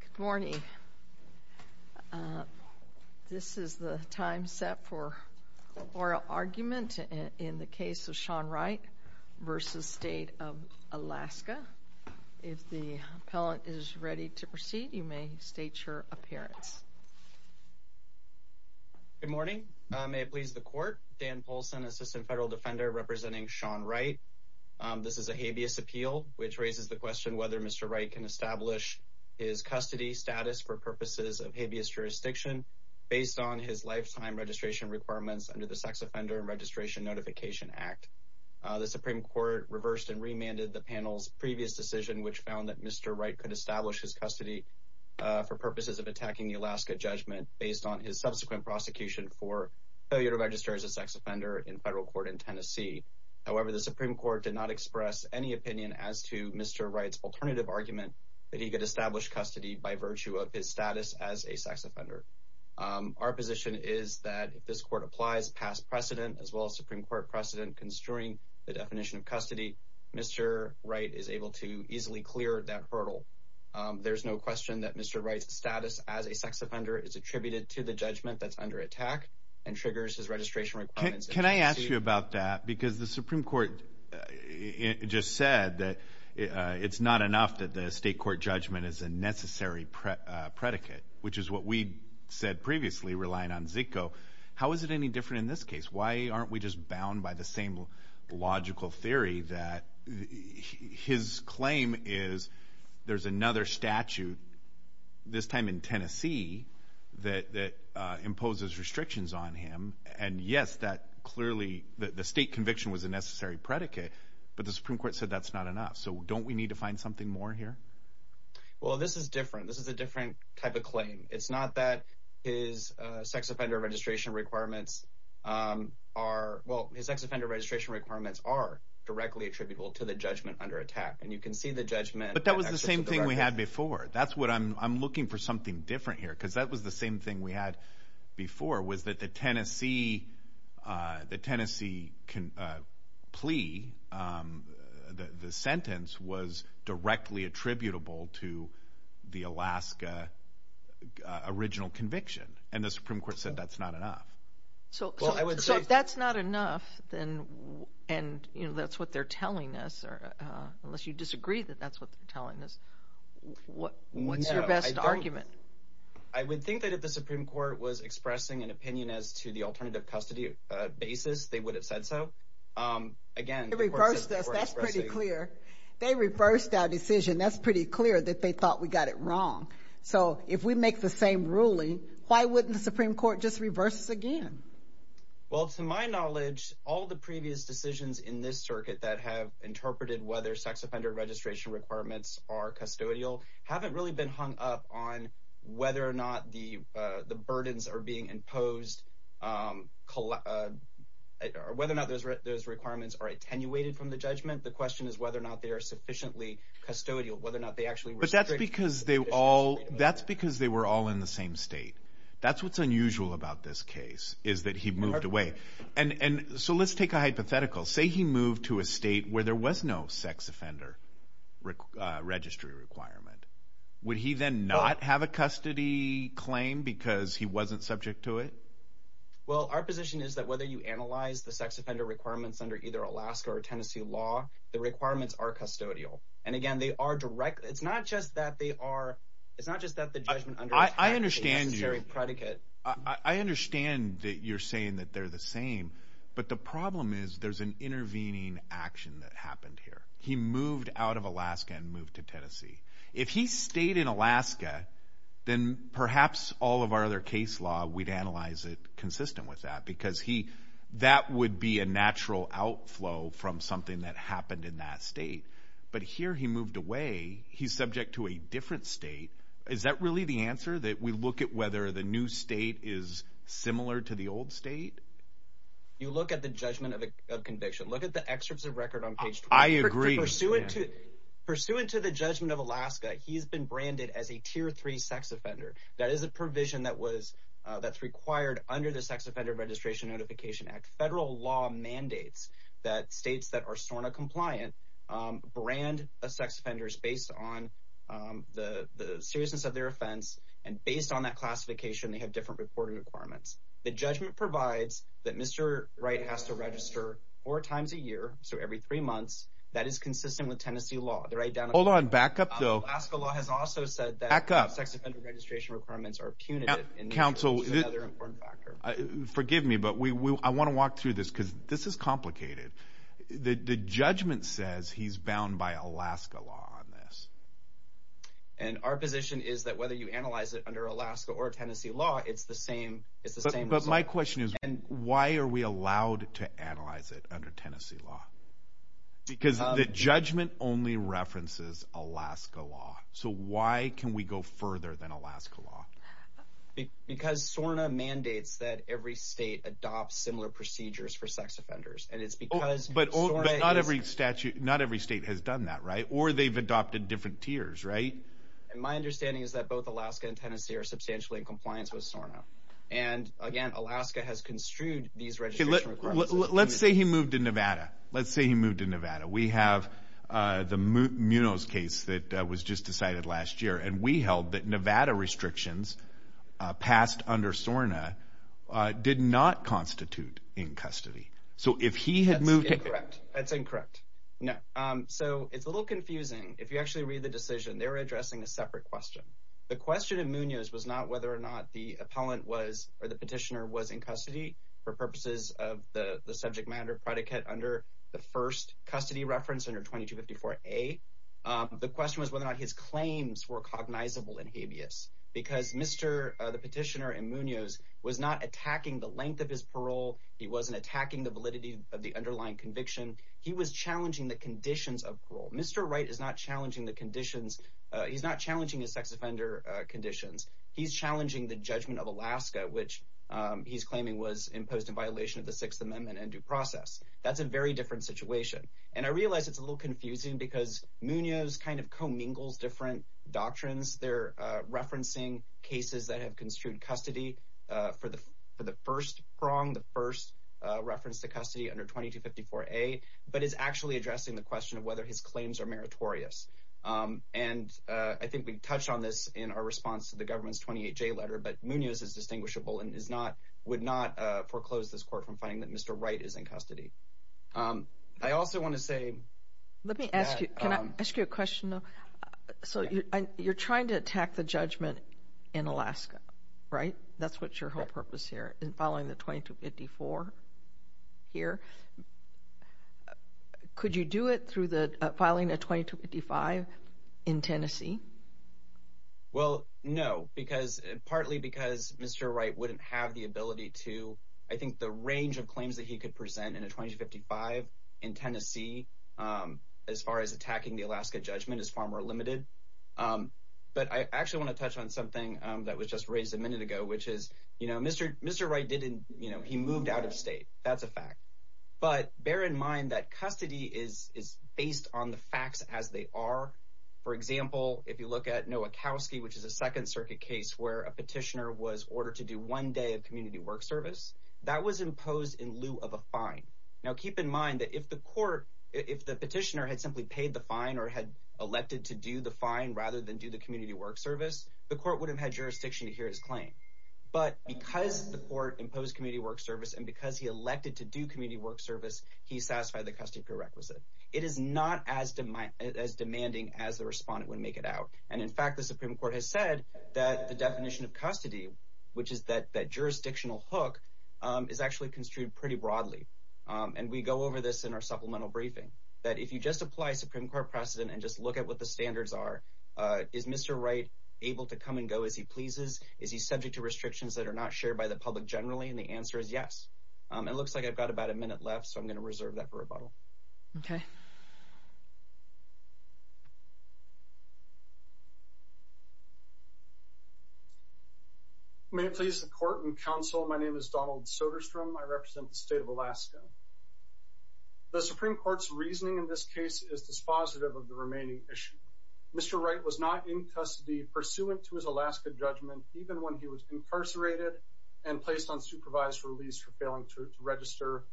Good morning. This is the time set for oral argument in the case of Sean Wright v. State of Alaska. If the appellant is ready to proceed, you may state your appearance. Good morning. May it please the court. Dan Polson, assistant federal defender representing Sean Wright. This is a habeas appeal, which raises the question whether Mr. Wright can establish his custody status for purposes of habeas jurisdiction based on his lifetime registration requirements under the Sex Offender Registration Notification Act. The Supreme Court reversed and remanded the panel's previous decision, which found that Mr. Wright could establish his custody for purposes of attacking the Alaska judgment based on his subsequent prosecution for failure to register as a sex offender in federal court in Tennessee. However, the Supreme Court did not express any opinion as to Mr. Wright's alternative argument that he could establish custody by virtue of his status as a sex offender. Our position is that if this court applies past precedent as well as Supreme Court precedent construing the definition of custody, Mr. Wright is able to easily clear that hurdle. There's no question that Mr. Wright's status as a sex offender is attributed to the judgment that's under attack and triggers his registration requirements. Can I ask you about that? Because the Supreme Court just said that it's not enough that the state court judgment is a necessary predicate, which is what we said previously relying on Zico. How is it any different in this case? Why aren't we just bound by the same logical theory that his claim is there's another statute, this time in Tennessee, that imposes restrictions on him? And yes, that clearly the state conviction was a necessary predicate, but the Supreme Court said that's not enough. So don't we need to find something more here? Well, this is different. This is a different type of claim. It's not that his sex offender registration requirements are, well, his sex offender registration requirements are directly attributable to the judgment under attack. And you can see the judgment. But that was the same thing we had before. That's what I'm looking for, something different here. Because that was the same thing we had before was that the Tennessee plea, the sentence was directly attributable to the Alaska original conviction. And the Supreme Court said that's not enough. So if that's not enough, and that's what they're telling us, unless you disagree that that's what they're telling us, what's your best argument? I would think that if the Supreme Court was expressing an opinion as to the alternative custody basis, they would have said so. Again, it reversed us. That's pretty clear. They reversed our decision. That's pretty clear that they thought we got it wrong. So if we make the same ruling, why wouldn't the Supreme Court just reverse us again? Well, to my knowledge, all the previous decisions in this circuit that have interpreted whether sex offender registration requirements are custodial haven't really been hung up on whether or not the burdens are being imposed, whether or not those requirements are attenuated from the judgment. The question is whether or not they are sufficiently custodial, whether or not they actually were. But that's because they were all in the same state. That's what's unusual about this case, is that he moved away. And so let's take a hypothetical. Say he moved to a state where there was no sex offender registry requirement. Would he then not have a custody claim because he wasn't subject to it? Well, our position is that whether you analyze the sex offender requirements under either Alaska or Tennessee law, the requirements are custodial. And again, they are direct. It's not just that they are. It's not just that the judgment under attack is a necessary predicate. I understand that you're saying that they're the same, but the problem is there's an intervening action that happened here. He moved out of Alaska and moved to Tennessee. If he stayed in Alaska, then perhaps all of our other case law, we'd analyze it consistent with that because that would be a natural outflow from something that happened in that state. But here he moved away. He's subject to a different state. Is that really the answer, that we look at whether the new state is similar to the old state? You look at the judgment of conviction. Look at the excerpts of record on page. I agree. Pursuant to the judgment of Alaska, he's been branded as a tier three sex offender. That is a provision that's required under the Sex Offender Registration Notification Act. Federal law mandates that states that are SORNA compliant brand a sex offender based on the seriousness of their offense. Based on that classification, they have different reporting requirements. The judgment provides that Mr. Wright has to register four times a year, so every three months. That is consistent with Tennessee law. Alaska law has also said that sex offender registration requirements are punitive. Forgive me, but I want to walk through this because this is complicated. The judgment says he's bound by Alaska law on this. Our position is that whether you analyze it under Alaska or Tennessee law, it's the same result. But my question is, why are we allowed to analyze it under Tennessee law? Because the judgment only references Alaska law. So why can we go further than Alaska law? Because SORNA mandates that every state adopts similar procedures for sex offenders. But not every state has done that, right? Or they've adopted different tiers, right? My understanding is that both Alaska and Tennessee are substantially in compliance with SORNA. And again, Alaska has construed these registration requirements. Let's say he moved to Nevada. Let's say he moved to Nevada. We have the Munoz case that was just decided last year. And we held that Nevada restrictions passed under SORNA did not constitute in custody. That's incorrect. No. So it's a little confusing. If you actually read the decision, they're addressing a separate question. The question in Munoz was not whether or not the appellant was or the petitioner was in custody for purposes of the subject matter predicate under the first custody reference under 2254A. The question was whether or not his claims were cognizable in habeas. Because Mr. the petitioner in Munoz was not attacking the length of his parole. He wasn't attacking the validity of the underlying conviction. He was challenging the conditions of parole. Mr. Wright is not challenging the conditions. He's not challenging his sex offender conditions. He's challenging the judgment of Alaska, which he's claiming was imposed in violation of the Sixth Amendment and due process. That's a very different situation. And I realize it's a little confusing because Munoz kind of commingles different doctrines. They're referencing cases that have construed custody for the for the first prong, the first reference to custody under 2254A, but is actually addressing the question of whether his claims are meritorious. And I think we touched on this in our response to the government's 28J letter, but Munoz is distinguishable and is not would not foreclose this court from finding that Mr. Wright is in custody. I also want to say. Let me ask you. Can I ask you a question? So you're trying to attack the judgment in Alaska, right? That's what your whole purpose here in following the 2254 here. Could you do it through the filing a 2255 in Tennessee? Well, no, because partly because Mr. Wright wouldn't have the ability to. I think the range of claims that he could present in a 2255 in Tennessee as far as attacking the Alaska judgment is far more limited. But I actually want to touch on something that was just raised a minute ago, which is, you know, Mr. Mr. Wright didn't. You know, he moved out of state. That's a fact. But bear in mind that custody is is based on the facts as they are. For example, if you look at Noah Kowski, which is a Second Circuit case where a petitioner was ordered to do one day of community work service that was imposed in lieu of a fine. Now, keep in mind that if the court if the petitioner had simply paid the fine or had elected to do the fine rather than do the community work service, the court would have had jurisdiction to hear his claim. But because the court imposed community work service and because he elected to do community work service, he satisfied the custody prerequisite. It is not as demanding as the respondent would make it out. And in fact, the Supreme Court has said that the definition of custody, which is that that jurisdictional hook, is actually construed pretty broadly. And we go over this in our supplemental briefing that if you just apply Supreme Court precedent and just look at what the standards are, is Mr. Wright able to come and go as he pleases? Is he subject to restrictions that are not shared by the public generally? And the answer is yes. It looks like I've got about a minute left, so I'm going to reserve that for rebuttal. OK. May it please the court and counsel, my name is Donald Soderstrom. I represent the state of Alaska. The Supreme Court's reasoning in this case is dispositive of the remaining issue. Mr. Wright was not in custody pursuant to his Alaska judgment, even when he was incarcerated and placed on supervised release for failing to register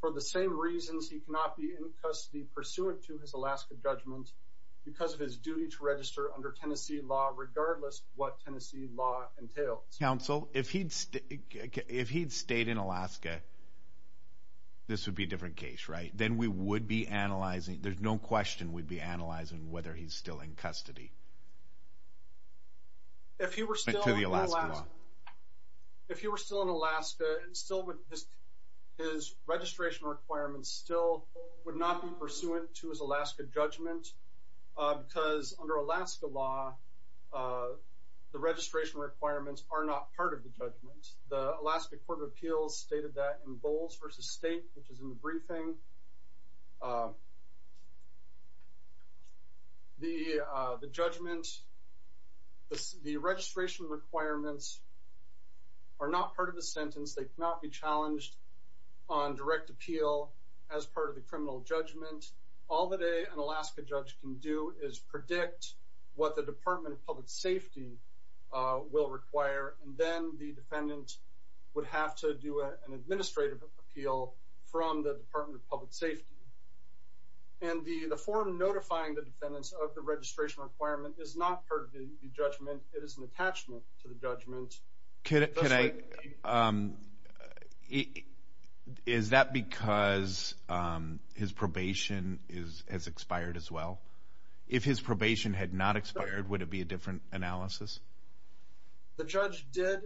for the same reasons. He cannot be in custody pursuant to his Alaska judgment because of his duty to register under Tennessee law, regardless what Tennessee law entails. Counsel, if he'd stayed in Alaska, this would be a different case, right? Then we would be analyzing, there's no question we'd be analyzing whether he's still in custody. If he were still in Alaska, his registration requirements still would not be pursuant to his Alaska judgment because under Alaska law, the registration requirements are not part of the judgment. The Alaska Court of Appeals stated that in Bowles v. State, which is in the briefing, the judgment, the registration requirements are not part of the sentence. They cannot be challenged on direct appeal as part of the criminal judgment. All that an Alaska judge can do is predict what the Department of Public Safety will require, and then the defendant would have to do an administrative appeal from the Department of Public Safety. And the form notifying the defendants of the registration requirement is not part of the judgment. It is an attachment to the judgment. Is that because his probation has expired as well? If his probation had not expired, would it be a different analysis? The judge did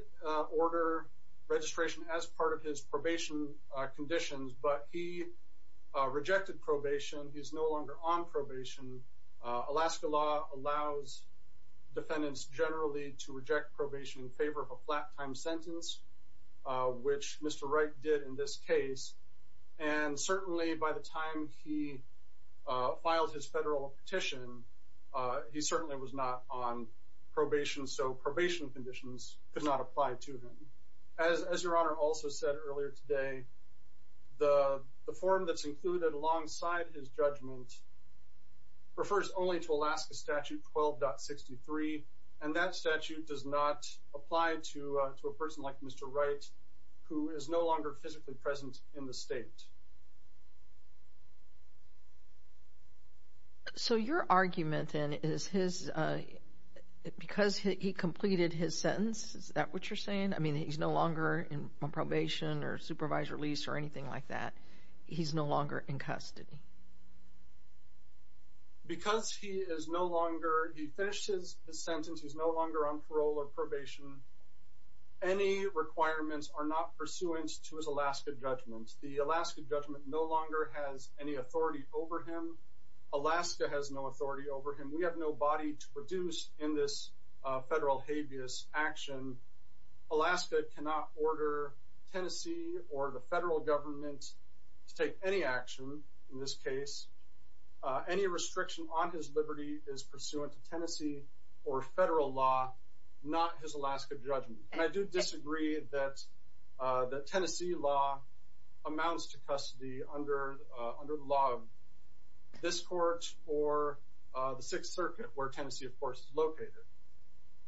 order registration as part of his probation conditions, but he rejected probation. He's no longer on probation. Alaska law allows defendants generally to reject probation in favor of a flat-time sentence, which Mr. Wright did in this case. And certainly by the time he filed his federal petition, he certainly was not on probation, so probation conditions could not apply to him. As your Honor also said earlier today, the form that's included alongside his judgment refers only to Alaska Statute 12.63, and that statute does not apply to a person like Mr. Wright, who is no longer physically present in the state. So your argument, then, is because he completed his sentence, is that what you're saying? I mean, he's no longer on probation or supervised release or anything like that. He's no longer in custody. Because he finished his sentence, he's no longer on parole or probation, any requirements are not pursuant to his Alaska judgment. The Alaska judgment no longer has any authority over him. Alaska has no authority over him. We have no body to produce in this federal habeas action. Alaska cannot order Tennessee or the federal government to take any action in this case. Any restriction on his liberty is pursuant to Tennessee or federal law, not his Alaska judgment. I do disagree that Tennessee law amounts to custody under the law of this court or the Sixth Circuit, where Tennessee, of course, is located.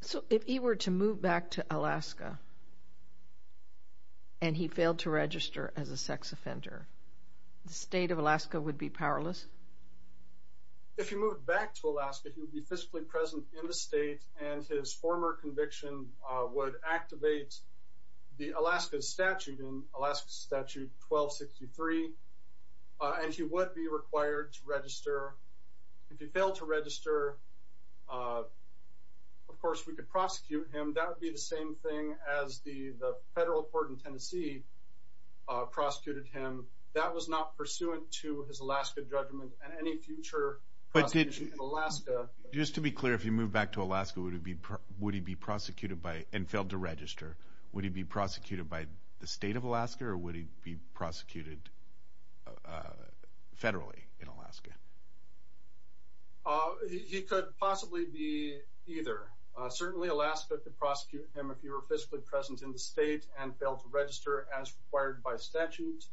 So if he were to move back to Alaska and he failed to register as a sex offender, the state of Alaska would be powerless? If he moved back to Alaska, he would be physically present in the state and his former conviction would activate the Alaska statute in Alaska Statute 1263, and he would be required to register. If he failed to register, of course, we could prosecute him. That would be the same thing as the federal court in Tennessee prosecuted him. That was not pursuant to his Alaska judgment and any future prosecution in Alaska. Just to be clear, if he moved back to Alaska, would he be prosecuted and failed to register? Would he be prosecuted by the state of Alaska or would he be prosecuted federally in Alaska? He could possibly be either. Certainly, Alaska could prosecute him if he were physically present in the state and failed to register as required by statute.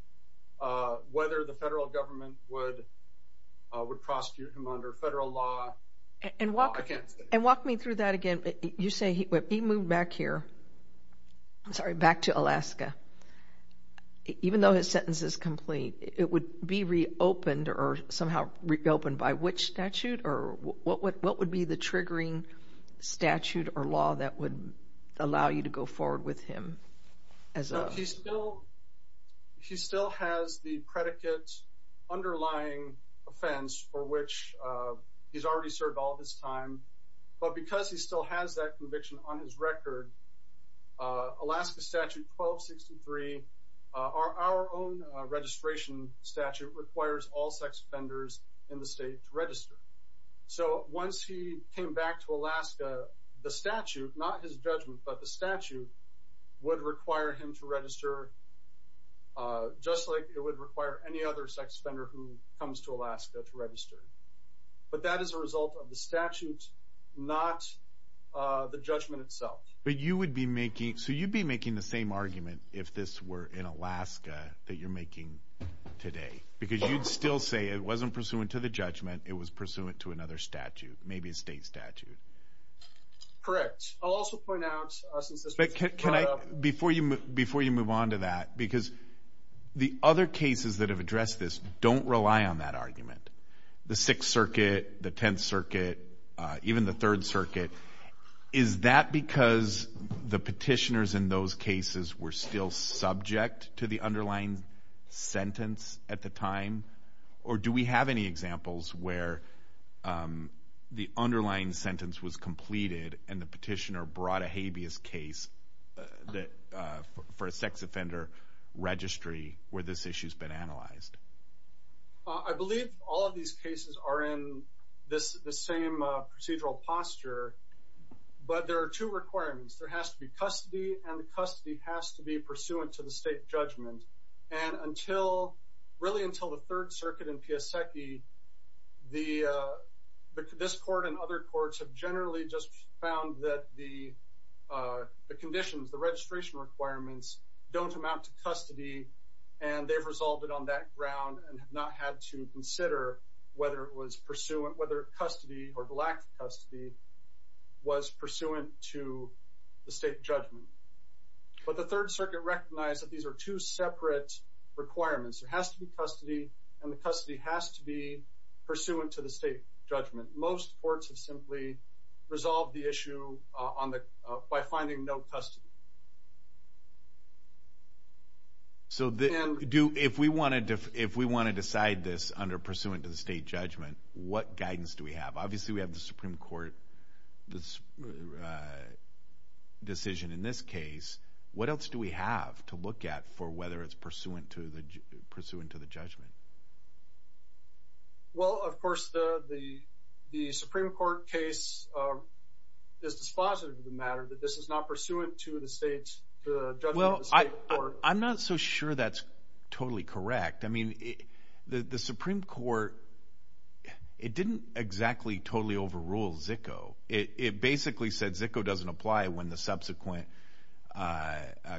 Whether the federal government would prosecute him under federal law, I can't say. And walk me through that again. You say he moved back here. I'm sorry, back to Alaska. Even though his sentence is complete, it would be reopened or somehow reopened by which statute or what would be the triggering statute or law that would allow you to go forward with him? He still has the predicate underlying offense for which he's already served all this time. But because he still has that conviction on his record, Alaska Statute 1263, our own registration statute requires all sex offenders in the state to register. So once he came back to Alaska, the statute, not his judgment, but the statute would require him to register just like it would require any other sex offender who comes to Alaska to register. But that is a result of the statute, not the judgment itself. But you would be making, so you'd be making the same argument if this were in Alaska that you're making today. Because you'd still say it wasn't pursuant to the judgment, it was pursuant to another statute, maybe a state statute. Correct. I'll also point out, before you move on to that, because the other cases that have addressed this don't rely on that argument. The Sixth Circuit, the Tenth Circuit, even the Third Circuit. Is that because the petitioners in those cases were still subject to the underlying sentence at the time? Or do we have any examples where the underlying sentence was completed and the petitioner brought a habeas case for a sex offender registry where this issue's been analyzed? I believe all of these cases are in the same procedural posture. But there are two requirements. There has to be custody, and the custody has to be pursuant to the state judgment. And until, really until the Third Circuit in Piasecki, this court and other courts have generally just found that the conditions, the registration requirements, don't amount to custody, and they've resolved it on that ground and have not had to consider whether it was pursuant, whether custody or lacked custody was pursuant to the state judgment. But the Third Circuit recognized that these are two separate requirements. There has to be custody, and the custody has to be pursuant to the state judgment. Most courts have simply resolved the issue by finding no custody. So if we want to decide this under pursuant to the state judgment, what guidance do we have? Obviously we have the Supreme Court decision in this case. What else do we have to look at for whether it's pursuant to the judgment? Well, of course the Supreme Court case is dispositive of the matter, that this is not pursuant to the judgment of the state court. I'm not so sure that's totally correct. I mean, the Supreme Court, it didn't exactly totally overrule Zicco. It basically said Zicco doesn't apply when the subsequent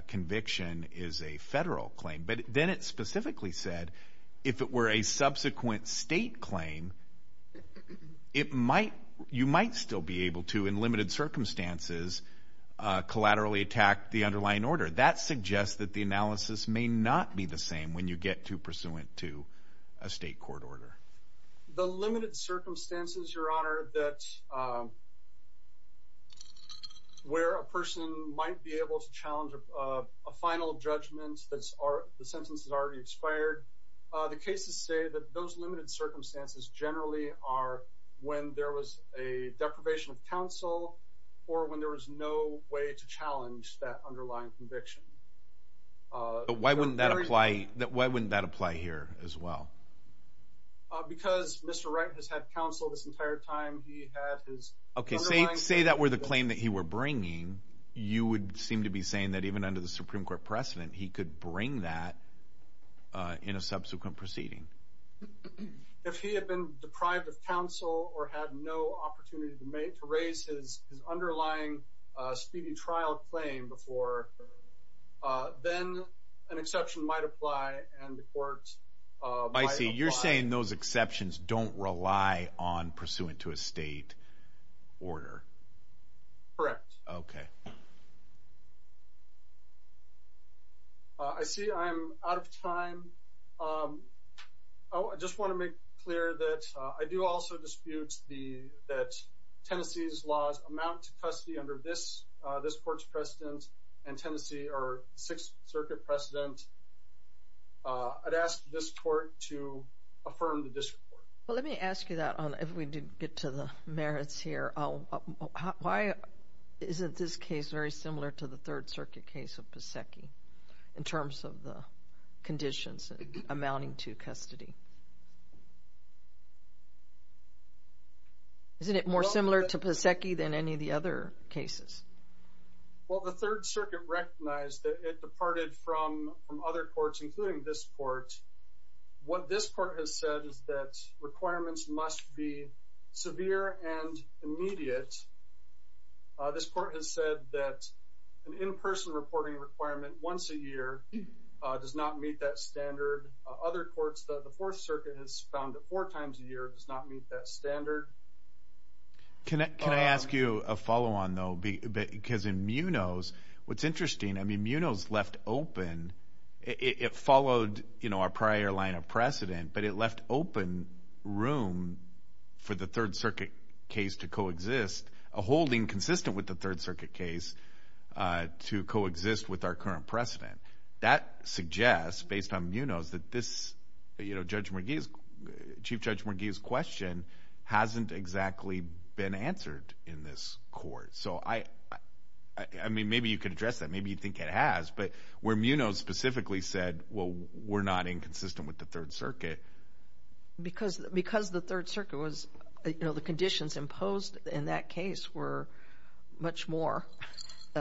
conviction is a federal claim. But then it specifically said if it were a subsequent state claim, you might still be able to, in limited circumstances, collaterally attack the underlying order. That suggests that the analysis may not be the same when you get to pursuant to a state court order. The limited circumstances, Your Honor, where a person might be able to challenge a final judgment, the sentence has already expired, the cases say that those limited circumstances generally are when there was a deprivation of counsel or when there was no way to challenge that underlying conviction. Why wouldn't that apply here as well? Because Mr. Wright has had counsel this entire time. Okay, say that were the claim that he were bringing, you would seem to be saying that even under the Supreme Court precedent, he could bring that in a subsequent proceeding. If he had been deprived of counsel or had no opportunity to raise his underlying speedy trial claim before, then an exception might apply and the court might apply. I see. You're saying those exceptions don't rely on pursuant to a state order. Correct. Okay. I see I'm out of time. I just want to make clear that I do also dispute that Tennessee's laws amount to custody under this court's precedent and Tennessee, our Sixth Circuit precedent, I'd ask this court to affirm the district court. Well, let me ask you that if we did get to the merits here. Why isn't this case very similar to the Third Circuit case of Pasecki in terms of the conditions amounting to custody? Isn't it more similar to Pasecki than any of the other cases? Well, the Third Circuit recognized that it departed from other courts, including this court. What this court has said is that requirements must be severe and immediate. This court has said that an in-person reporting requirement once a year does not meet that standard. Other courts, the Fourth Circuit has found that four times a year does not meet that standard. Can I ask you a follow-on, though? Because in Munoz, what's interesting, Munoz left open, it followed our prior line of precedent, but it left open room for the Third Circuit case to coexist, a holding consistent with the Third Circuit case to coexist with our current precedent. That suggests, based on Munoz, that this, you know, Judge McGee's, Chief Judge McGee's question hasn't exactly been answered in this court. So, I mean, maybe you could address that, maybe you think it has, but where Munoz specifically said, well, we're not inconsistent with the Third Circuit. Because the Third Circuit was, you know, the conditions imposed in that case were much more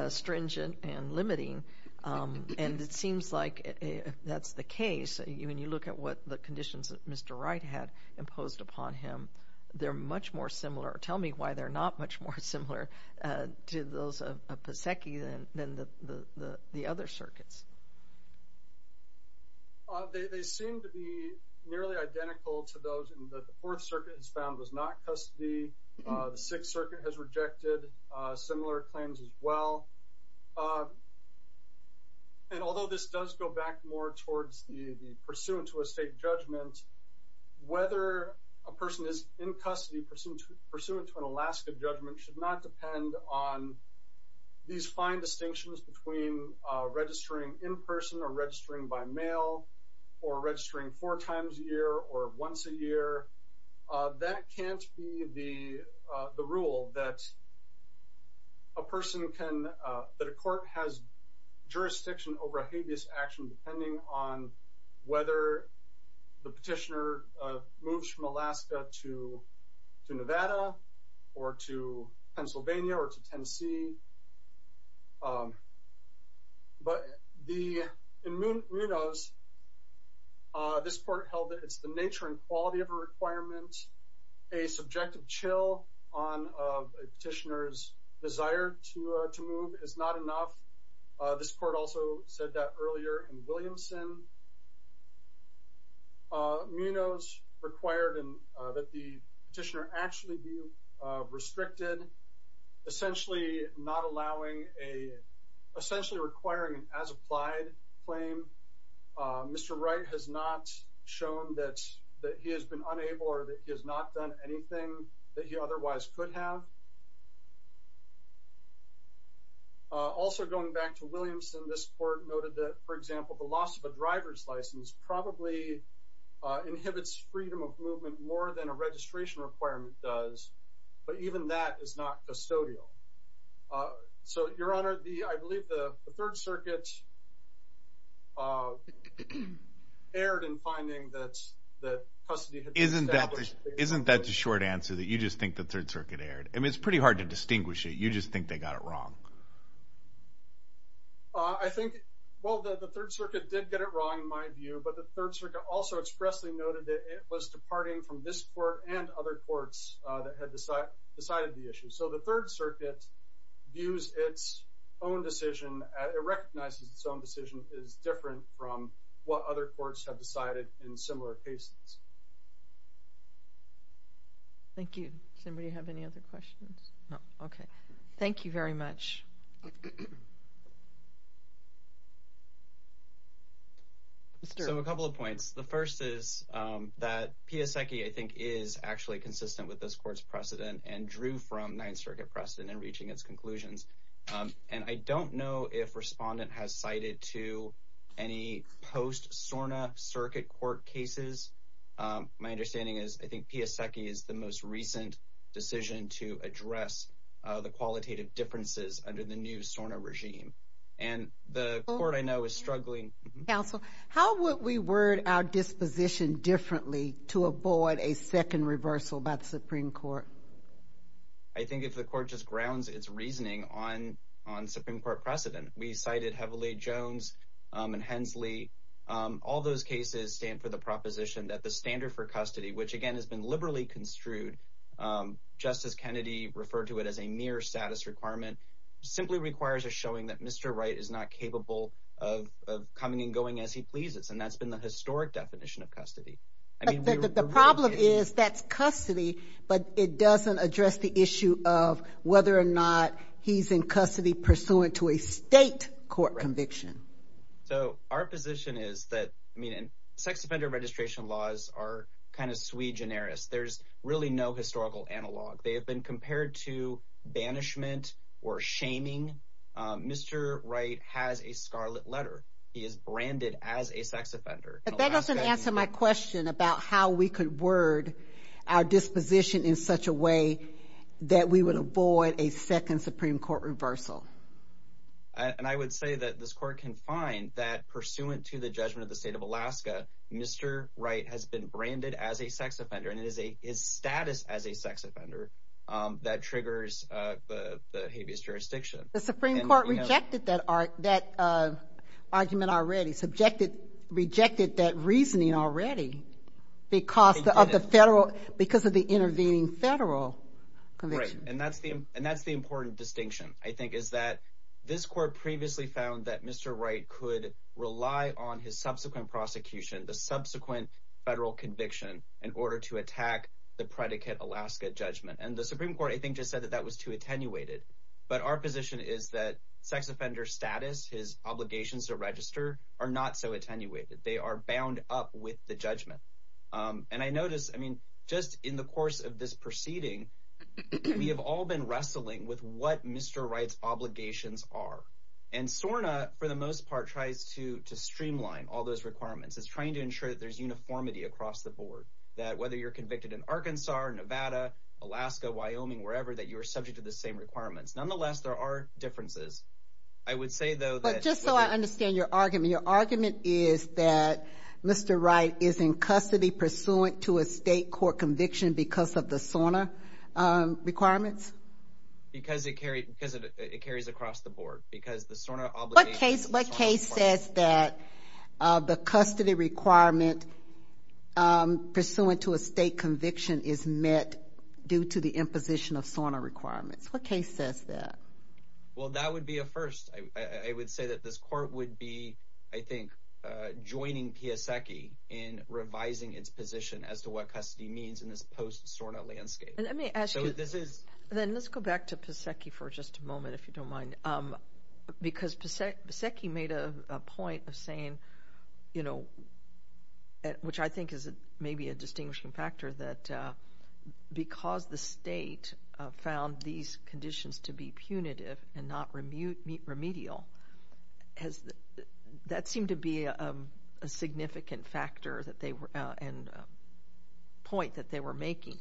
stringent and limiting, and it seems like that's the case. When you look at what the conditions that Mr. Wright had imposed upon him, they're much more similar. Tell me why they're not much more similar to those of Pasecki than the other circuits. They seem to be nearly identical to those that the Fourth Circuit has found was not custody. The Sixth Circuit has rejected similar claims as well. And although this does go back more towards the pursuant to a state judgment, whether a person is in custody pursuant to an Alaska judgment should not depend on these fine distinctions between registering in person or registering by mail or registering four times a year or once a year. That can't be the rule that a person can, that a court has jurisdiction over a habeas action depending on whether the petitioner moves from Alaska to Nevada or to Pennsylvania or to Tennessee. But in Munoz, this court held that it's the nature and quality of a requirement. A subjective chill on a petitioner's desire to move is not enough. This court also said that earlier in Williamson. Munoz required that the petitioner actually be restricted, essentially not allowing a, essentially requiring an as applied claim. Mr. Wright has not shown that he has been unable or that he has not done anything that he otherwise could have. Also going back to Williamson, this court noted that, for example, the loss of a driver's license probably inhibits freedom of movement more than a registration requirement does. But even that is not custodial. So, Your Honor, I believe the Third Circuit erred in finding that custody had been established. Isn't that the short answer that you just think the Third Circuit erred? I mean, it's pretty hard to distinguish it. You just think they got it wrong. I think, well, the Third Circuit did get it wrong in my view, but the Third Circuit also expressly noted that it was departing from this court and other courts that had decided the issue. So the Third Circuit views its own decision, it recognizes its own decision is different from what other courts have decided in similar cases. Thank you. Does anybody have any other questions? No. Okay. Thank you very much. So a couple of points. The first is that Piasecki, I think, is actually consistent with this court's precedent and drew from Ninth Circuit precedent in reaching its conclusions. And I don't know if Respondent has cited to any post-SORNA circuit court cases. My understanding is I think Piasecki is the most recent decision to address the qualitative differences under the new SORNA regime. And the court, I know, is struggling. Counsel, how would we word our disposition differently to avoid a second reversal by the Supreme Court? I think if the court just grounds its reasoning on Supreme Court precedent. We cited heavily Jones and Hensley. All those cases stand for the proposition that the standard for custody, which again has been liberally construed, Justice Kennedy referred to it as a mere status requirement, simply requires a showing that Mr. Wright is not capable of coming and going as he pleases. And that's been the historic definition of custody. The problem is that's custody, but it doesn't address the issue of whether or not he's in custody pursuant to a state court conviction. So our position is that sex offender registration laws are kind of sui generis. There's really no historical analog. They have been compared to banishment or shaming. Mr. Wright has a scarlet letter. He is branded as a sex offender. But that doesn't answer my question about how we could word our disposition in such a way that we would avoid a second Supreme Court reversal. And I would say that this court can find that pursuant to the judgment of the state of Alaska, Mr. Wright has been branded as a sex offender. And it is status as a sex offender that triggers the habeas jurisdiction. The Supreme Court rejected that argument already, rejected that reasoning already because of the intervening federal conviction. And that's the important distinction, I think, is that this court previously found that Mr. Wright could rely on his subsequent prosecution, the subsequent federal conviction, in order to attack the predicate Alaska judgment. And the Supreme Court, I think, just said that that was too attenuated. And my understanding is that sex offender status, his obligations to register, are not so attenuated. They are bound up with the judgment. And I notice, I mean, just in the course of this proceeding, we have all been wrestling with what Mr. Wright's obligations are. And SORNA, for the most part, tries to streamline all those requirements. It's trying to ensure that there's uniformity across the board. That whether you're convicted in Arkansas, Nevada, Alaska, Wyoming, wherever, that you are subject to the same requirements. Those are the two differences. I would say, though, that... But just so I understand your argument, your argument is that Mr. Wright is in custody pursuant to a state court conviction because of the SORNA requirements? Because it carries across the board, because the SORNA obligations... What case says that the custody requirement pursuant to a state conviction is met due to the imposition of SORNA requirements? What case says that? Well, that would be a first. I would say that this court would be, I think, joining Piasecki in revising its position as to what custody means in this post-SORNA landscape. And let me ask you... So this is... Then let's go back to Piasecki for just a moment, if you don't mind. Because Piasecki made a point of saying, you know, which I think is maybe a distinguishing factor, that because the state found these conditions to be punitive and not remedial, that seemed to be a significant factor and point that they were making.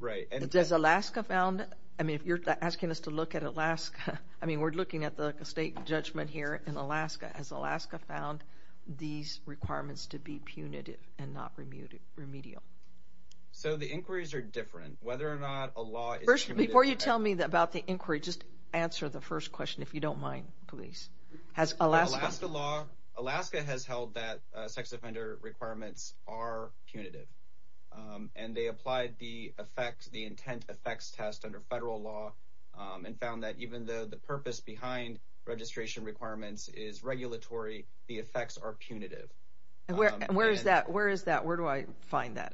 Right. Has Alaska found... I mean, if you're asking us to look at Alaska... I mean, we're looking at the state judgment here in Alaska. Has Alaska found these requirements to be punitive and not remedial? So the inquiries are different. Whether or not a law is punitive... First, before you tell me about the inquiry, just answer the first question, if you don't mind, please. Has Alaska... The Alaska law... Alaska has held that sex offender requirements are punitive. And they applied the intent effects test under federal law and found that even though the purpose behind registration requirements is regulatory, the effects are punitive. Where is that? Where is that? Where do I find that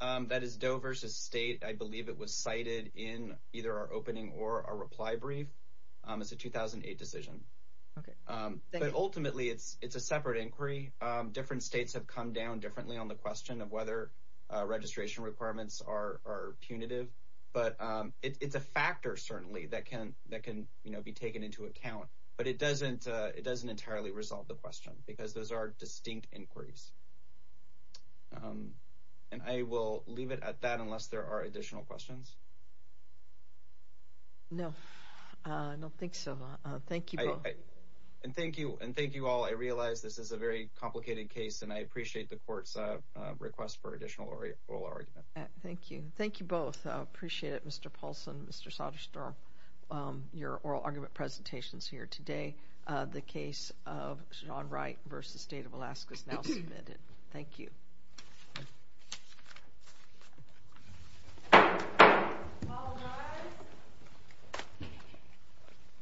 at? That is Doe versus State. I believe it was cited in either our opening or our reply brief. It's a 2008 decision. But ultimately, it's a separate inquiry. Different states have come down differently on the question of whether registration requirements are punitive. But it's a factor, certainly, that can be taken into account. But it doesn't entirely resolve the question. Because those are distinct inquiries. And I will leave it at that unless there are additional questions. No. I don't think so. Thank you both. And thank you all. I realize this is a very complicated case. And I appreciate the court's request for additional oral argument. Thank you. Thank you both. I appreciate it, Mr. Paulson, Mr. Soderstrom, your oral argument presentations here today. The case of John Wright versus State of Alaska is now submitted. Thank you. All rise.